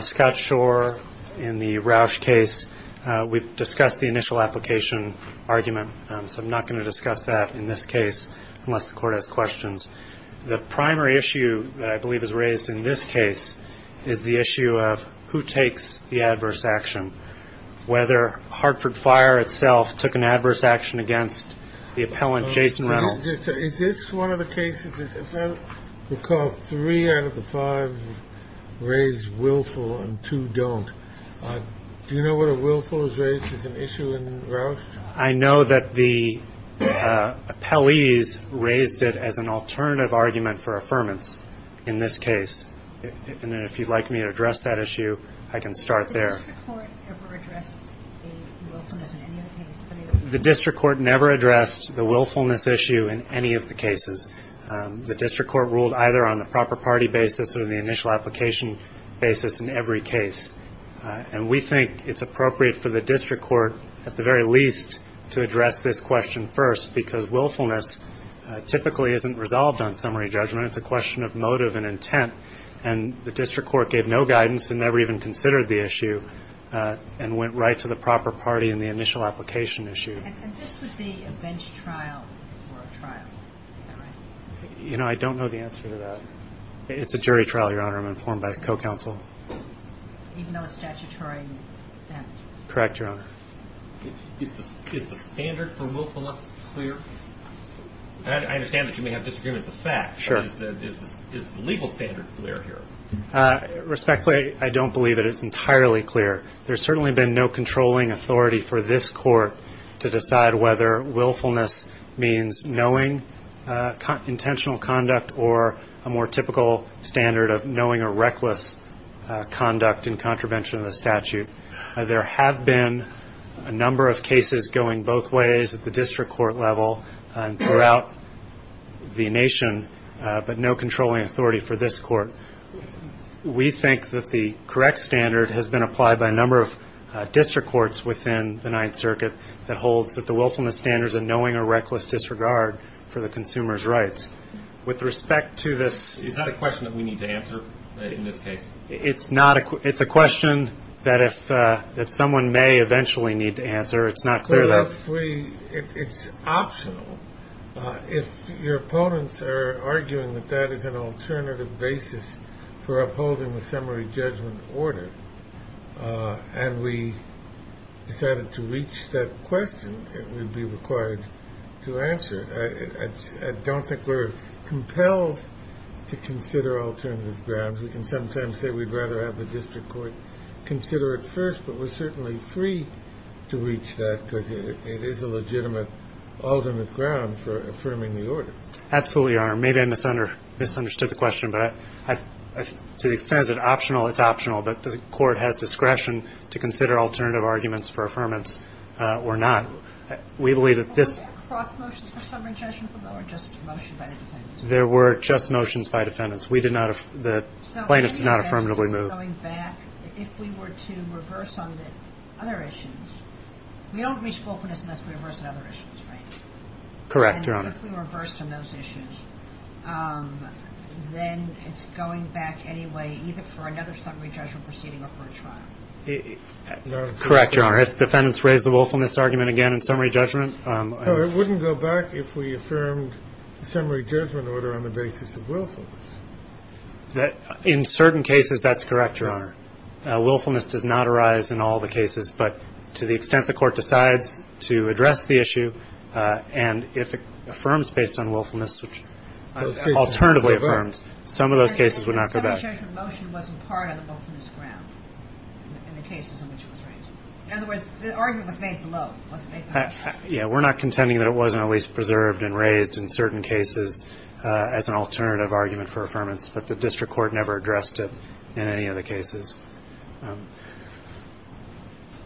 Scott Schorr in the Rausch case. We've discussed the initial application argument, so I'm not going to discuss that in this case unless the court has questions. The primary issue that I believe is raised in this case is the issue of who takes the adverse action, whether Hartford Fire itself took an adverse action against the appellant Jason Reynolds. Is this one of the cases, if I recall, three out of the five raise willful and two don't. Do you know what a willful is raised as an issue in Rausch? I know that the appellees raised it as an alternative argument for affirmance in this case, and if you'd like me to address that issue, I can start there. Has the district court ever addressed the willfulness in any of the cases? The district court never addressed the willfulness issue in any of the cases. The district court ruled either on the proper party basis or the initial application basis in every case. And we think it's appropriate for the district court at the very least to address this question first, because willfulness typically isn't resolved on summary judgment. It's a question of motive and intent, and the district court gave no guidance and never even considered the issue and went right to the proper party in the initial application issue. And this would be a bench trial for a trial, is that right? You know, I don't know the answer to that. It's a jury trial, Your Honor. I'm informed by co-counsel. Even though it's statutory? Correct, Your Honor. Is the standard for willfulness clear? I understand that you may have disagreements with the fact, but is the legal standard clear here? Respectfully, I don't believe that it's entirely clear. There's certainly been no controlling authority for this court to decide whether willfulness means knowing intentional conduct or a more typical standard of knowing a reckless conduct in contravention of the statute. There have been a number of cases going both ways at the district court level and throughout the nation, but no controlling authority for this court. We think that the correct standard has been applied by a number of district courts within the Ninth Circuit that holds that the willfulness standards are knowing a reckless disregard for the consumer's rights. With respect to this ‑‑ Is that a question that we need to answer in this case? It's a question that someone may eventually need to answer. It's not clear that. It's optional. If your opponents are arguing that that is an alternative basis for upholding the summary judgment order and we decided to reach that question, it would be required to answer. I don't think we're compelled to consider alternative grounds. We can sometimes say we'd rather have the district court consider it first, but we're certainly free to reach that because it is a legitimate ultimate ground for affirming the order. Absolutely, Your Honor. Maybe I misunderstood the question, but to the extent it's optional, it's optional. But the court has discretion to consider alternative arguments for affirmance or not. We believe that this ‑‑ Were there cross motions for summary judgment or just motions by defendants? There were just motions by defendants. The plaintiffs did not affirmatively move. If we were to reverse on the other issues, we don't reach willfulness unless we reverse on other issues, right? Correct, Your Honor. If we reverse on those issues, then it's going back anyway either for another summary judgment proceeding or for a trial. Correct, Your Honor. If defendants raise the willfulness argument again in summary judgment? It wouldn't go back if we affirmed the summary judgment order on the basis of willfulness. In certain cases, that's correct, Your Honor. Willfulness does not arise in all the cases, but to the extent the court decides to address the issue and if it affirms based on willfulness, which alternatively affirms, some of those cases would not go back. Summary judgment motion wasn't part of the willfulness ground in the cases in which it was raised. In other words, the argument was made below. Yeah, we're not contending that it wasn't at least preserved and raised in certain cases as an alternative argument for affirmance, but the district court never addressed it in any of the cases.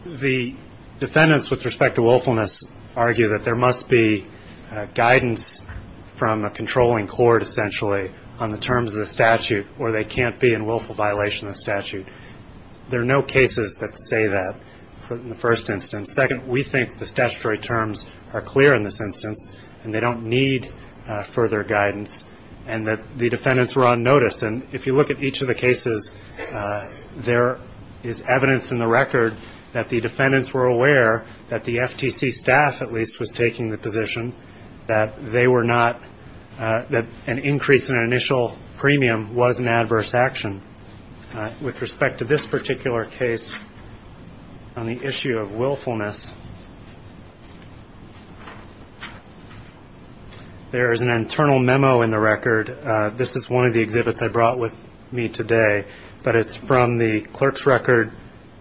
The defendants with respect to willfulness argue that there must be guidance from a controlling court, essentially, on the terms of the statute or they can't be in willful violation of the statute. There are no cases that say that in the first instance. Second, we think the statutory terms are clear in this instance and they don't need further guidance and that the defendants were on notice. And if you look at each of the cases, there is evidence in the record that the defendants were aware that the FTC staff, at least, was taking the position that they were not, that an increase in an initial premium was an adverse action. With respect to this particular case on the issue of willfulness, there is an internal memo in the record. This is one of the exhibits I brought with me today, but it's from the Clerk's Record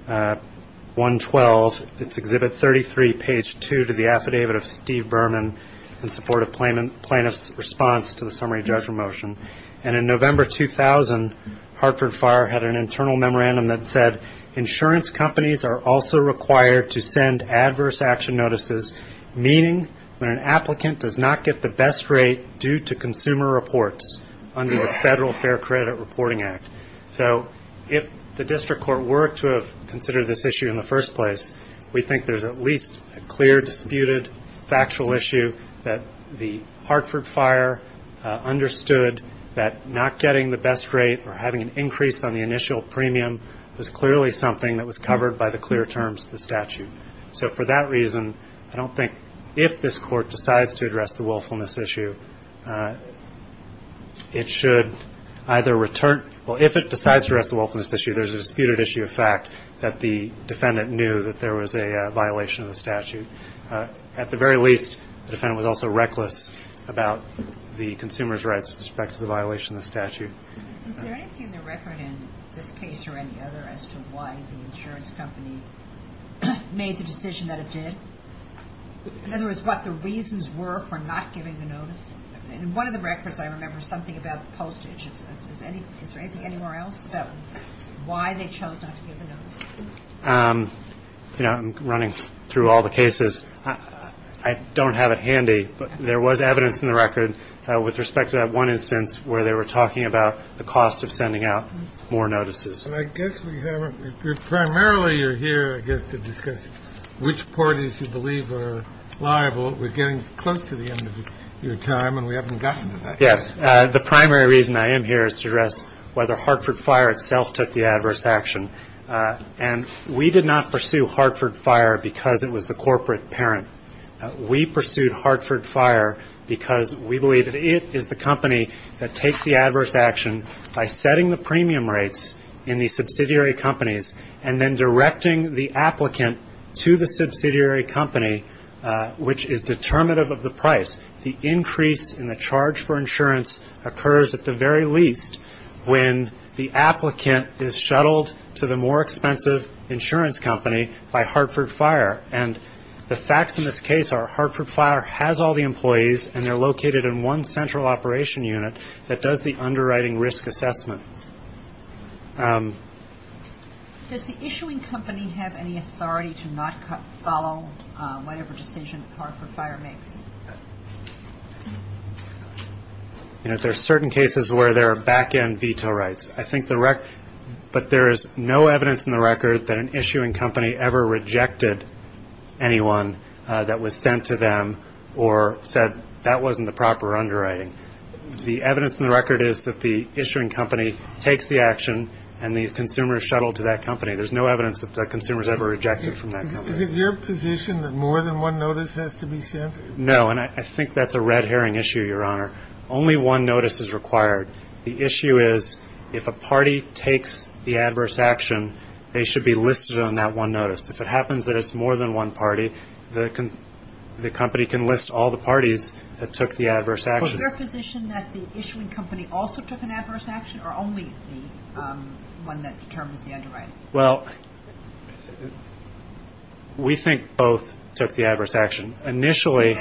112. It's Exhibit 33, Page 2, to the Affidavit of Steve Berman in support of plaintiff's response to the summary judgment motion. And in November 2000, Hartford Fire had an internal memorandum that said, insurance companies are also required to send adverse action notices, meaning when an applicant does not get the best rate due to consumer reports under the Federal Fair Credit Reporting Act. So if the district court were to have considered this issue in the first place, we think there's at least a clear, disputed, factual issue that the Hartford Fire understood that not getting the best rate or having an increase on the initial premium was clearly something that was covered by the clear terms of the statute. So for that reason, I don't think if this Court decides to address the willfulness issue, it should either return, or if it decides to address the willfulness issue, there's a disputed issue of fact that the defendant knew that there was a violation of the statute. At the very least, the defendant was also reckless about the consumer's rights with respect to the violation of the statute. Is there anything in the record in this case or any other as to why the insurance company made the decision that it did? In other words, what the reasons were for not giving the notice? In one of the records, I remember something about postage. Is there anything anywhere else about why they chose not to give the notice? You know, I'm running through all the cases. I don't have it handy, but there was evidence in the record with respect to that one instance where they were talking about the cost of sending out more notices. I guess we haven't. We primarily are here, I guess, to discuss which parties you believe are liable. We're getting close to the end of your time, and we haven't gotten to that yet. Yes. The primary reason I am here is to address whether Hartford Fire itself took the adverse action. And we did not pursue Hartford Fire because it was the corporate parent. We pursued Hartford Fire because we believe that it is the company that takes the adverse action by setting the premium rates in the subsidiary companies and then directing the applicant to the subsidiary company, which is determinative of the price. The increase in the charge for insurance occurs at the very least when the applicant is shuttled to the more expensive insurance company by Hartford Fire. And the facts in this case are Hartford Fire has all the employees, and they're located in one central operation unit that does the underwriting risk assessment. Does the issuing company have any authority to not follow whatever decision Hartford Fire makes? There are certain cases where there are back-end veto rights, but there is no evidence in the record that an issuing company ever rejected anyone that was sent to them or said that wasn't the proper underwriting. The evidence in the record is that the issuing company takes the action and the consumer is shuttled to that company. There's no evidence that the consumer is ever rejected from that company. Is it your position that more than one notice has to be sent? No, and I think that's a red herring issue, Your Honor. Only one notice is required. The issue is if a party takes the adverse action, they should be listed on that one notice. If it happens that it's more than one party, the company can list all the parties that took the adverse action. Is it your position that the issuing company also took an adverse action or only the one that determines the underwriting? Well, we think both took the adverse action. Initially,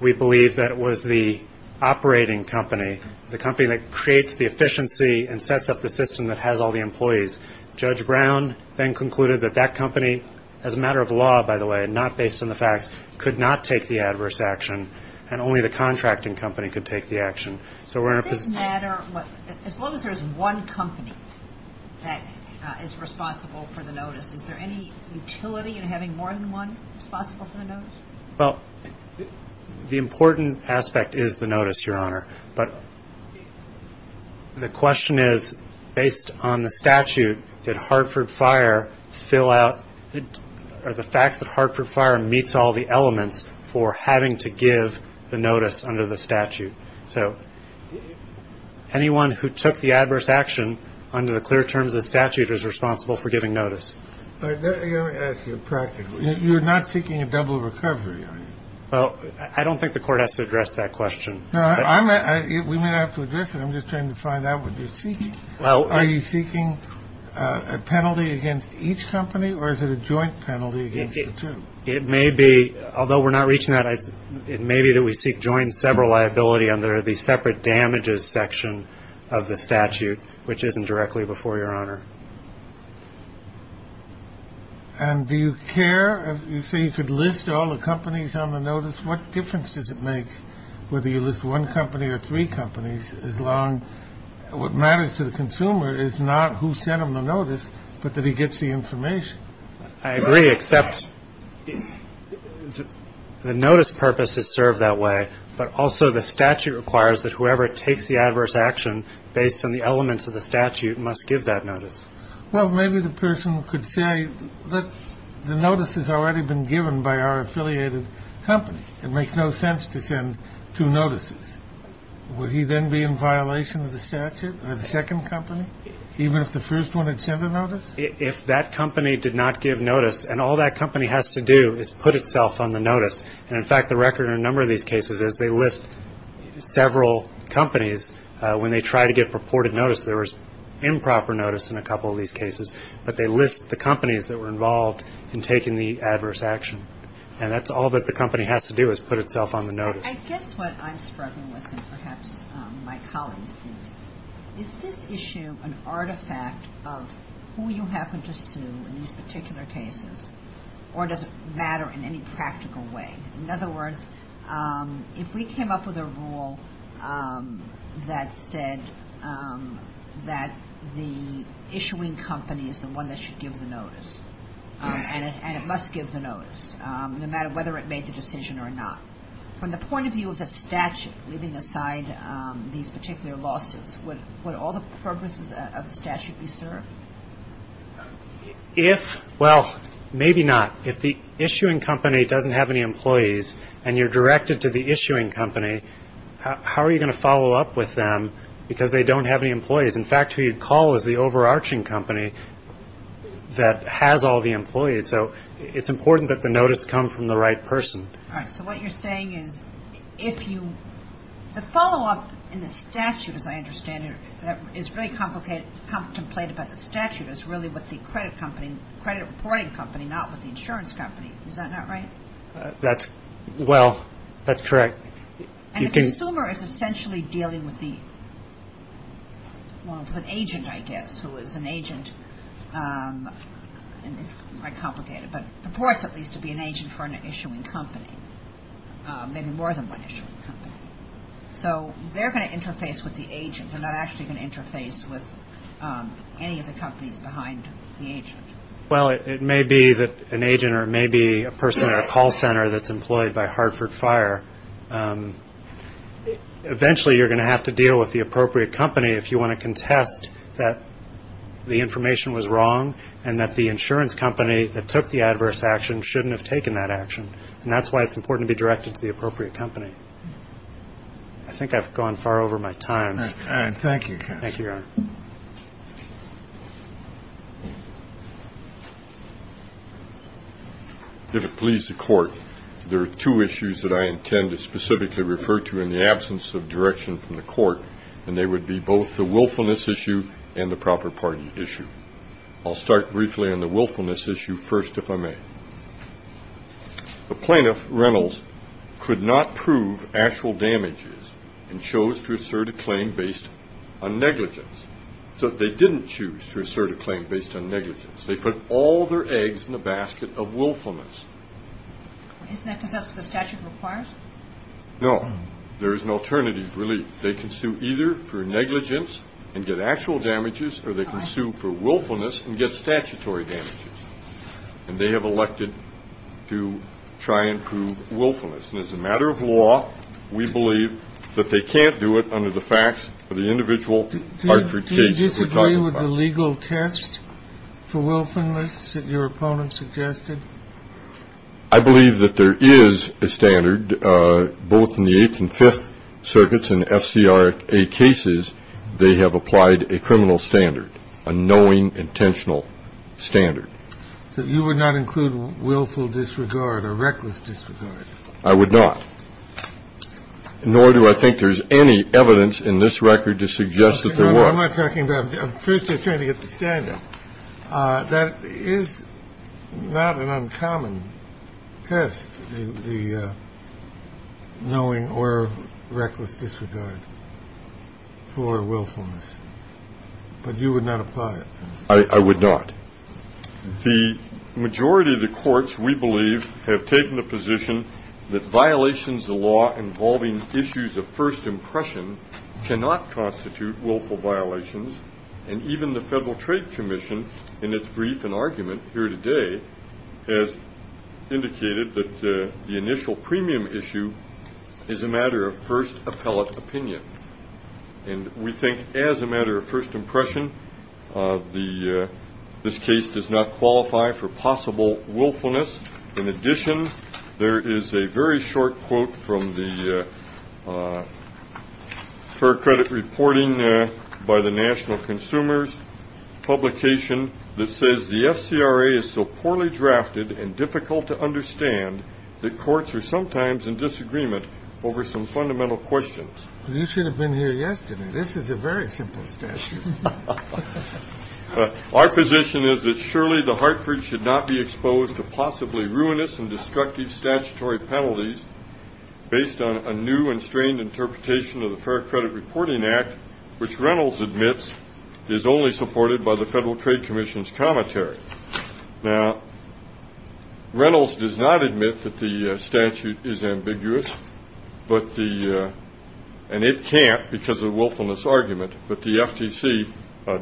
we believe that it was the operating company, the company that creates the efficiency and sets up the system that has all the employees. Judge Brown then concluded that that company, as a matter of law, by the way, not based on the facts, could not take the adverse action, and only the contracting company could take the action. So we're in a position. Does this matter? As long as there's one company that is responsible for the notice, is there any utility in having more than one responsible for the notice? Well, the important aspect is the notice, Your Honor. But the question is, based on the statute, did Hartford Fire fill out, are the facts that Hartford Fire meets all the elements for having to give the notice under the statute? So anyone who took the adverse action under the clear terms of the statute is responsible for giving notice. Let me ask you practically. You're not seeking a double recovery, are you? Well, I don't think the Court has to address that question. No, we may not have to address it. I'm just trying to find out what you're seeking. Are you seeking a penalty against each company, or is it a joint penalty against the two? It may be, although we're not reaching that, it may be that we seek joint sever liability under the separate damages section of the statute, which isn't directly before Your Honor. And do you care? You say you could list all the companies on the notice. What difference does it make whether you list one company or three companies? What matters to the consumer is not who sent him the notice, but that he gets the information. I agree, except the notice purpose is served that way, but also the statute requires that whoever takes the adverse action based on the elements of the statute must give that notice. Well, maybe the person could say that the notice has already been given by our affiliated company. It makes no sense to send two notices. Would he then be in violation of the statute, of the second company, even if the first one had sent a notice? If that company did not give notice, and all that company has to do is put itself on the notice, and in fact the record in a number of these cases is they list several companies. When they try to give purported notice, there was improper notice in a couple of these cases, but they list the companies that were involved in taking the adverse action, and that's all that the company has to do is put itself on the notice. I guess what I'm struggling with and perhaps my colleagues is, is this issue an artifact of who you happen to sue in these particular cases, or does it matter in any practical way? In other words, if we came up with a rule that said that the issuing company is the one that should give the notice, and it must give the notice, no matter whether it made the decision or not, from the point of view of the statute leaving aside these particular lawsuits, would all the purposes of the statute be served? If, well, maybe not. If the issuing company doesn't have any employees, and you're directed to the issuing company, how are you going to follow up with them because they don't have any employees? In fact, who you'd call is the overarching company that has all the employees. So it's important that the notice come from the right person. All right. So what you're saying is if you, the follow-up in the statute, as I understand it, is really contemplated by the statute, is really with the credit reporting company, not with the insurance company. Is that not right? Well, that's correct. And the consumer is essentially dealing with the agent, I guess, who is an agent. It's quite complicated, but purports at least to be an agent for an issuing company, maybe more than one issuing company. So they're going to interface with the agent. They're not actually going to interface with any of the companies behind the agent. Well, it may be that an agent or it may be a person at a call center that's employed by Hartford Fire. Eventually you're going to have to deal with the appropriate company if you want to contest that the information was wrong and that the insurance company that took the adverse action shouldn't have taken that action. And that's why it's important to be directed to the appropriate company. I think I've gone far over my time. All right. Thank you, counsel. Thank you, Your Honor. If it please the Court, there are two issues that I intend to specifically refer to in the absence of direction from the Court, and they would be both the willfulness issue and the proper party issue. I'll start briefly on the willfulness issue first, if I may. The plaintiff, Reynolds, could not prove actual damages and chose to assert a claim based on negligence. So they didn't choose to assert a claim based on negligence. They put all their eggs in the basket of willfulness. Isn't that because that's what the statute requires? No. There is an alternative relief. They can sue either for negligence and get actual damages, or they can sue for willfulness and get statutory damages. And they have elected to try and prove willfulness. And as a matter of law, we believe that they can't do it under the facts of the individual case that we're talking about. Do you disagree with the legal test for willfulness that your opponent suggested? I believe that there is a standard, both in the Eighth and Fifth Circuits and FCA cases, they have applied a criminal standard, a knowing, intentional standard. So you would not include willful disregard or reckless disregard? I would not. Nor do I think there's any evidence in this record to suggest that there was. I'm not talking about that. I'm first just trying to get the standard. That is not an uncommon test, the knowing or reckless disregard for willfulness. But you would not apply it? I would not. The majority of the courts, we believe, have taken the position that violations of law involving issues of first impression cannot constitute willful violations. And even the Federal Trade Commission, in its brief and argument here today, has indicated that the initial premium issue is a matter of first appellate opinion. And we think, as a matter of first impression, this case does not qualify for possible willfulness. In addition, there is a very short quote from the Fair Credit Reporting by the National Consumers publication that says, The FCRA is so poorly drafted and difficult to understand that courts are sometimes in disagreement over some fundamental questions. You should have been here yesterday. This is a very simple statute. Our position is that surely the Hartford should not be exposed to possibly ruinous and destructive statutory penalties based on a new and strained interpretation of the Fair Credit Reporting Act, which Reynolds admits is only supported by the Federal Trade Commission's commentary. Now, Reynolds does not admit that the statute is ambiguous, and it can't because of the willfulness argument. But the FTC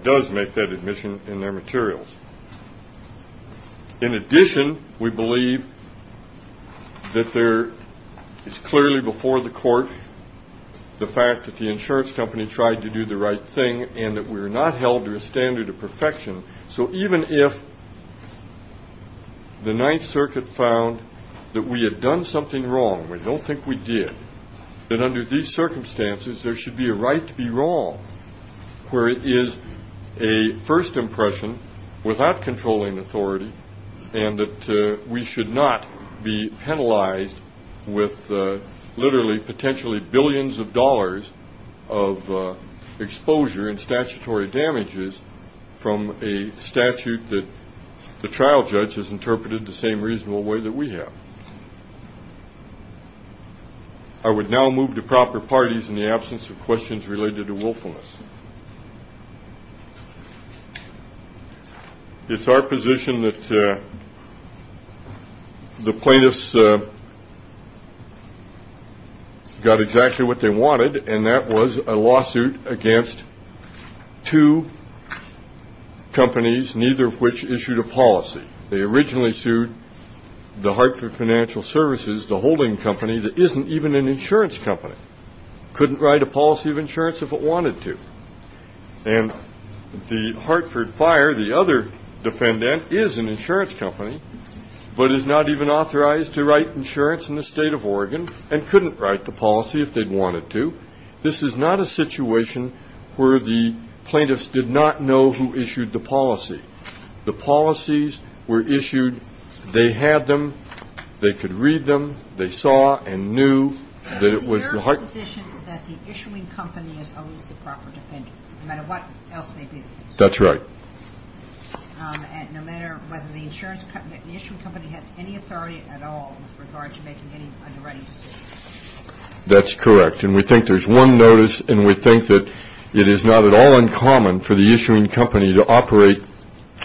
does make that admission in their materials. In addition, we believe that there is clearly before the court the fact that the insurance company tried to do the right thing and that we were not held to a standard of perfection. So even if the Ninth Circuit found that we had done something wrong, we don't think we did, that under these circumstances there should be a right to be wrong where it is a first impression without controlling authority and that we should not be penalized with literally potentially billions of dollars of exposure and statutory damages from a statute that the trial judge has interpreted the same reasonable way that we have. I would now move to proper parties in the absence of questions related to willfulness. It's our position that the plaintiffs got exactly what they wanted, and that was a lawsuit against two companies, neither of which issued a policy. They originally sued the Hartford Financial Services, the holding company that isn't even an insurance company. Couldn't write a policy of insurance if it wanted to. And the Hartford Fire, the other defendant, is an insurance company but is not even authorized to write insurance in the state of Oregon and couldn't write the policy if they wanted to. This is not a situation where the plaintiffs did not know who issued the policy. The policies were issued. They had them. They could read them. They saw and knew that it was the Hartford ---- But is it your position that the issuing company is always the proper defendant, no matter what else may be the case? That's right. And no matter whether the insurance company, the issuing company has any authority at all with regard to making any underwriting decisions? That's correct. And we think there's one notice, and we think that it is not at all uncommon for the issuing company to operate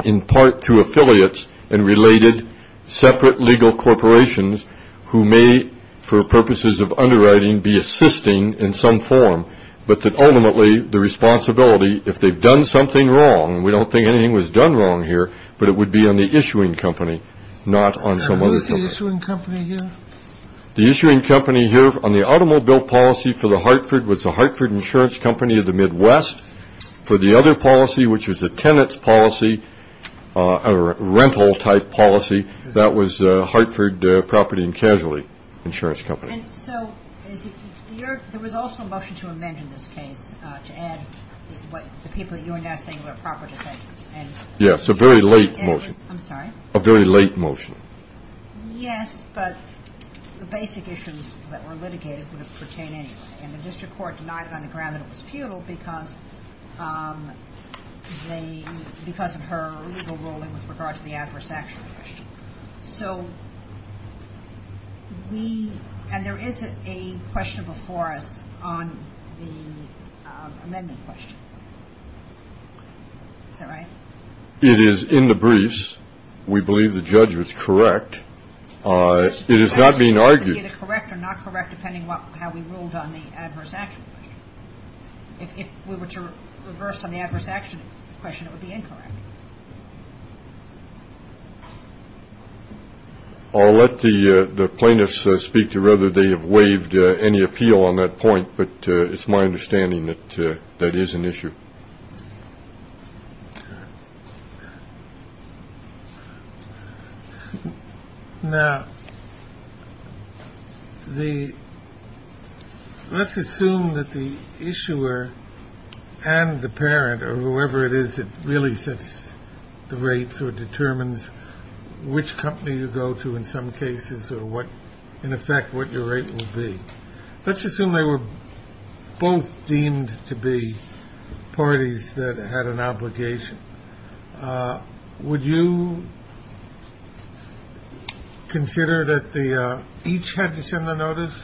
in part through affiliates and related separate legal corporations who may, for purposes of underwriting, be assisting in some form, but that ultimately the responsibility, if they've done something wrong, and we don't think anything was done wrong here, but it would be on the issuing company, not on some other company. And who's the issuing company here? The issuing company here on the automobile policy for the Hartford was the Hartford Insurance Company of the Midwest. For the other policy, which was a tenant's policy, a rental-type policy, that was Hartford Property and Casualty Insurance Company. And so there was also a motion to amend in this case to add the people that you were now saying were a proper defendant. Yes, a very late motion. I'm sorry? A very late motion. Yes, but the basic issues that were litigated would have pertained anyway, and the district court denied it on the ground that it was futile because of her legal ruling with regard to the adverse action. So we, and there is a question before us on the amendment question. Is that right? It is in the briefs. We believe the judge was correct. It is not being argued. It would be either correct or not correct depending on how we ruled on the adverse action question. If we were to reverse on the adverse action question, it would be incorrect. I'll let the plaintiffs speak to whether they have waived any appeal on that point. But it's my understanding that that is an issue. Now, let's assume that the issuer and the parent or whoever it is that really sets the rates or determines which company you go to in some cases or what, in effect, what your rate will be. Let's assume they were both deemed to be parties that had an obligation. Would you consider that each had to send a notice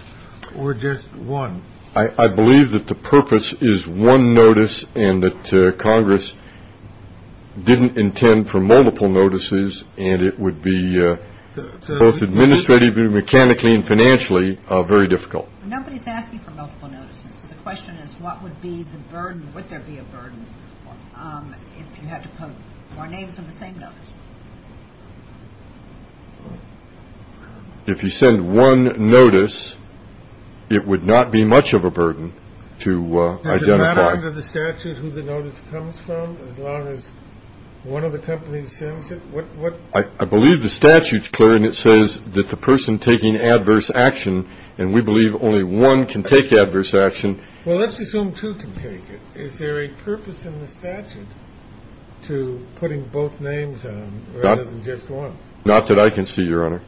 or just one? I believe that the purpose is one notice and that Congress didn't intend for multiple notices, and it would be both administratively, mechanically and financially very difficult. Nobody's asking for multiple notices. The question is, what would be the burden? Would there be a burden if you had to put more names on the same notice? If you send one notice, it would not be much of a burden to identify. Is it not under the statute who the notice comes from as long as one of the companies sends it? I believe the statute's clear, and it says that the person taking adverse action, and we believe only one can take adverse action. Well, let's assume two can take it. Is there a purpose in the statute to putting both names on rather than just one? Not that I can see, Your Honor.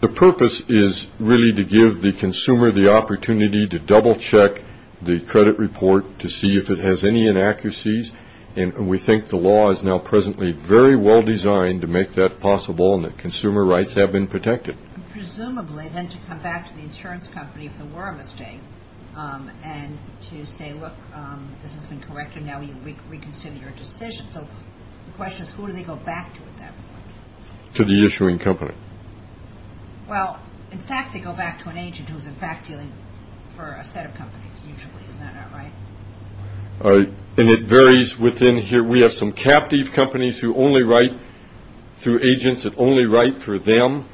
The purpose is really to give the consumer the opportunity to double-check the credit report to see if it has any inaccuracies, and we think the law is now presently very well designed to make that possible and that consumer rights have been protected. Presumably, then, to come back to the insurance company if there were a mistake and to say, look, this has been corrected, now we reconsider your decision. So the question is, who do they go back to at that point? To the issuing company. Well, in fact, they go back to an agent who's, in fact, dealing for a set of companies usually. Is that not right? And it varies within here. We have some captive companies who only write through agents that only write for them.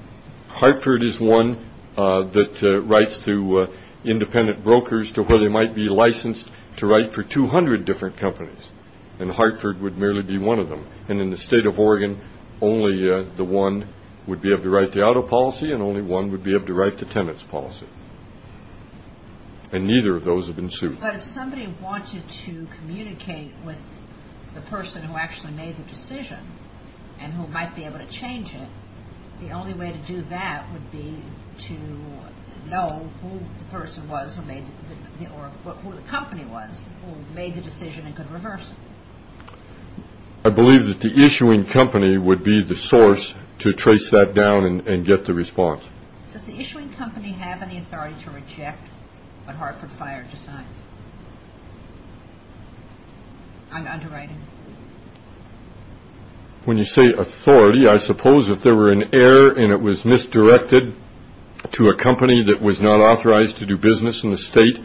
Hartford is one that writes to independent brokers to where they might be licensed to write for 200 different companies, and Hartford would merely be one of them. And in the state of Oregon, only the one would be able to write the auto policy and only one would be able to write the tenant's policy. And neither of those have been sued. But if somebody wanted to communicate with the person who actually made the decision and who might be able to change it, the only way to do that would be to know who the person was who made the or who the company was who made the decision and could reverse it. I believe that the issuing company would be the source to trace that down and get the response. Does the issuing company have any authority to reject what Hartford Fire decides? I'm underwriting. When you say authority, I suppose if there were an error and it was misdirected to a company that was not authorized to do business in the state,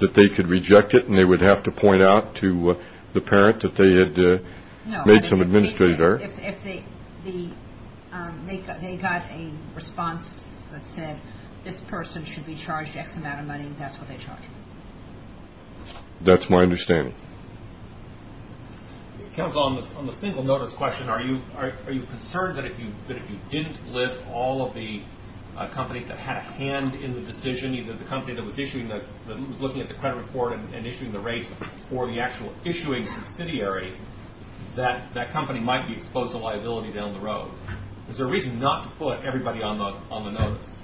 that they could reject it and they would have to point out to the parent that they had made some administrative error. If they got a response that said this person should be charged X amount of money, that's what they charged. That's my understanding. Counsel, on the single notice question, are you concerned that if you didn't list all of the companies that had a hand in the decision, either the company that was looking at the credit report and issuing the rate or the actual issuing subsidiary, that that company might be exposed to liability down the road? Is there a reason not to put everybody on the notice?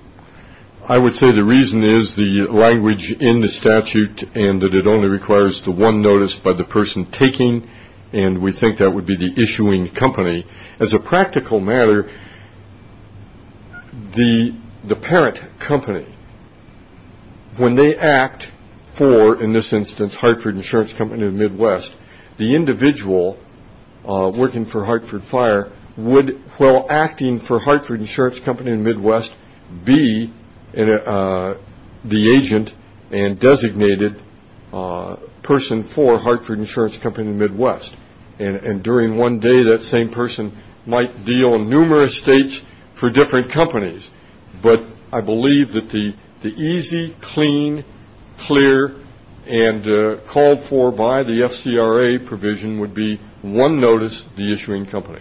I would say the reason is the language in the statute and that it only requires the one notice by the person taking, and we think that would be the issuing company. As a practical matter, the parent company, when they act for, in this instance, Hartford Insurance Company in the Midwest, the individual working for Hartford Fire would, while acting for Hartford Insurance Company in the Midwest, be the agent and designated person for Hartford Insurance Company in the Midwest. And during one day, that same person might deal in numerous states for different companies. But I believe that the easy, clean, clear, and called for by the FCRA provision would be one notice, the issuing company.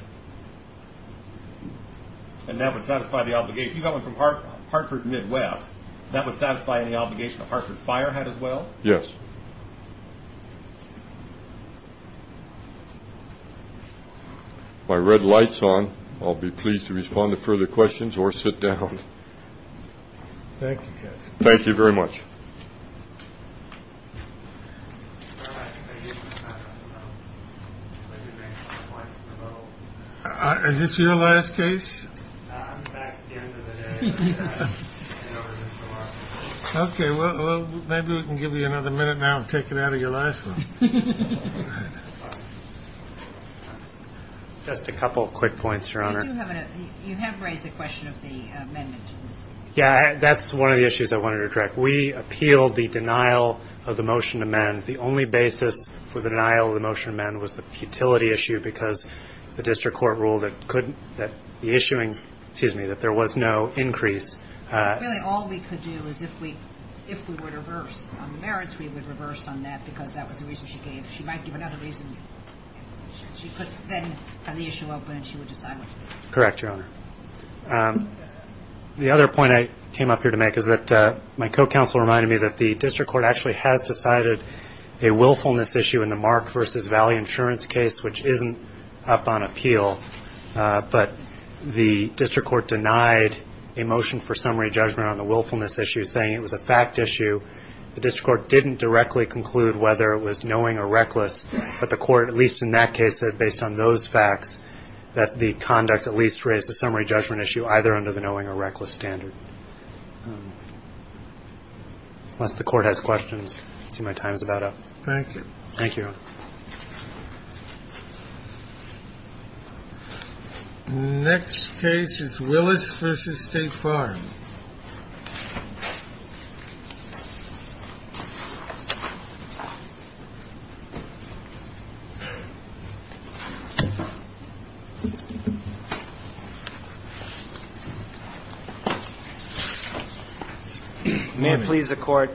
And that would satisfy the obligation. If you got one from Hartford Midwest, that would satisfy any obligation that Hartford Fire had as well? Yes. My red lights on. I'll be pleased to respond to further questions or sit down. Thank you. Thank you very much. Is this your last case? OK, well, maybe we can give you another minute now. Take it out of your last. Just a couple of quick points, Your Honor. You have raised the question of the amendment. Yeah, that's one of the issues I wanted to direct. We appealed the denial of the motion to amend. The only basis for the denial of the motion to amend was the futility issue because the district court ruled that the issuing, excuse me, that there was no increase. Really, all we could do is if we were to reverse on the merits, we would reverse on that because that was the reason she gave. She might give another reason. She could then have the issue open and she would decide what to do. Correct, Your Honor. The other point I came up here to make is that my co-counsel reminded me that the district court actually has decided a willfulness issue in the Mark v. Valley Insurance case, which isn't up on appeal, but the district court denied a motion for summary judgment on the willfulness issue, saying it was a fact issue. The district court didn't directly conclude whether it was knowing or reckless, but the court, at least in that case, said, based on those facts, that the conduct at least raised a summary judgment issue either under the knowing or reckless standard. Unless the court has questions. I see my time is about up. Thank you. Thank you, Your Honor. The next case is Willis v. State Farm. May it please the Court.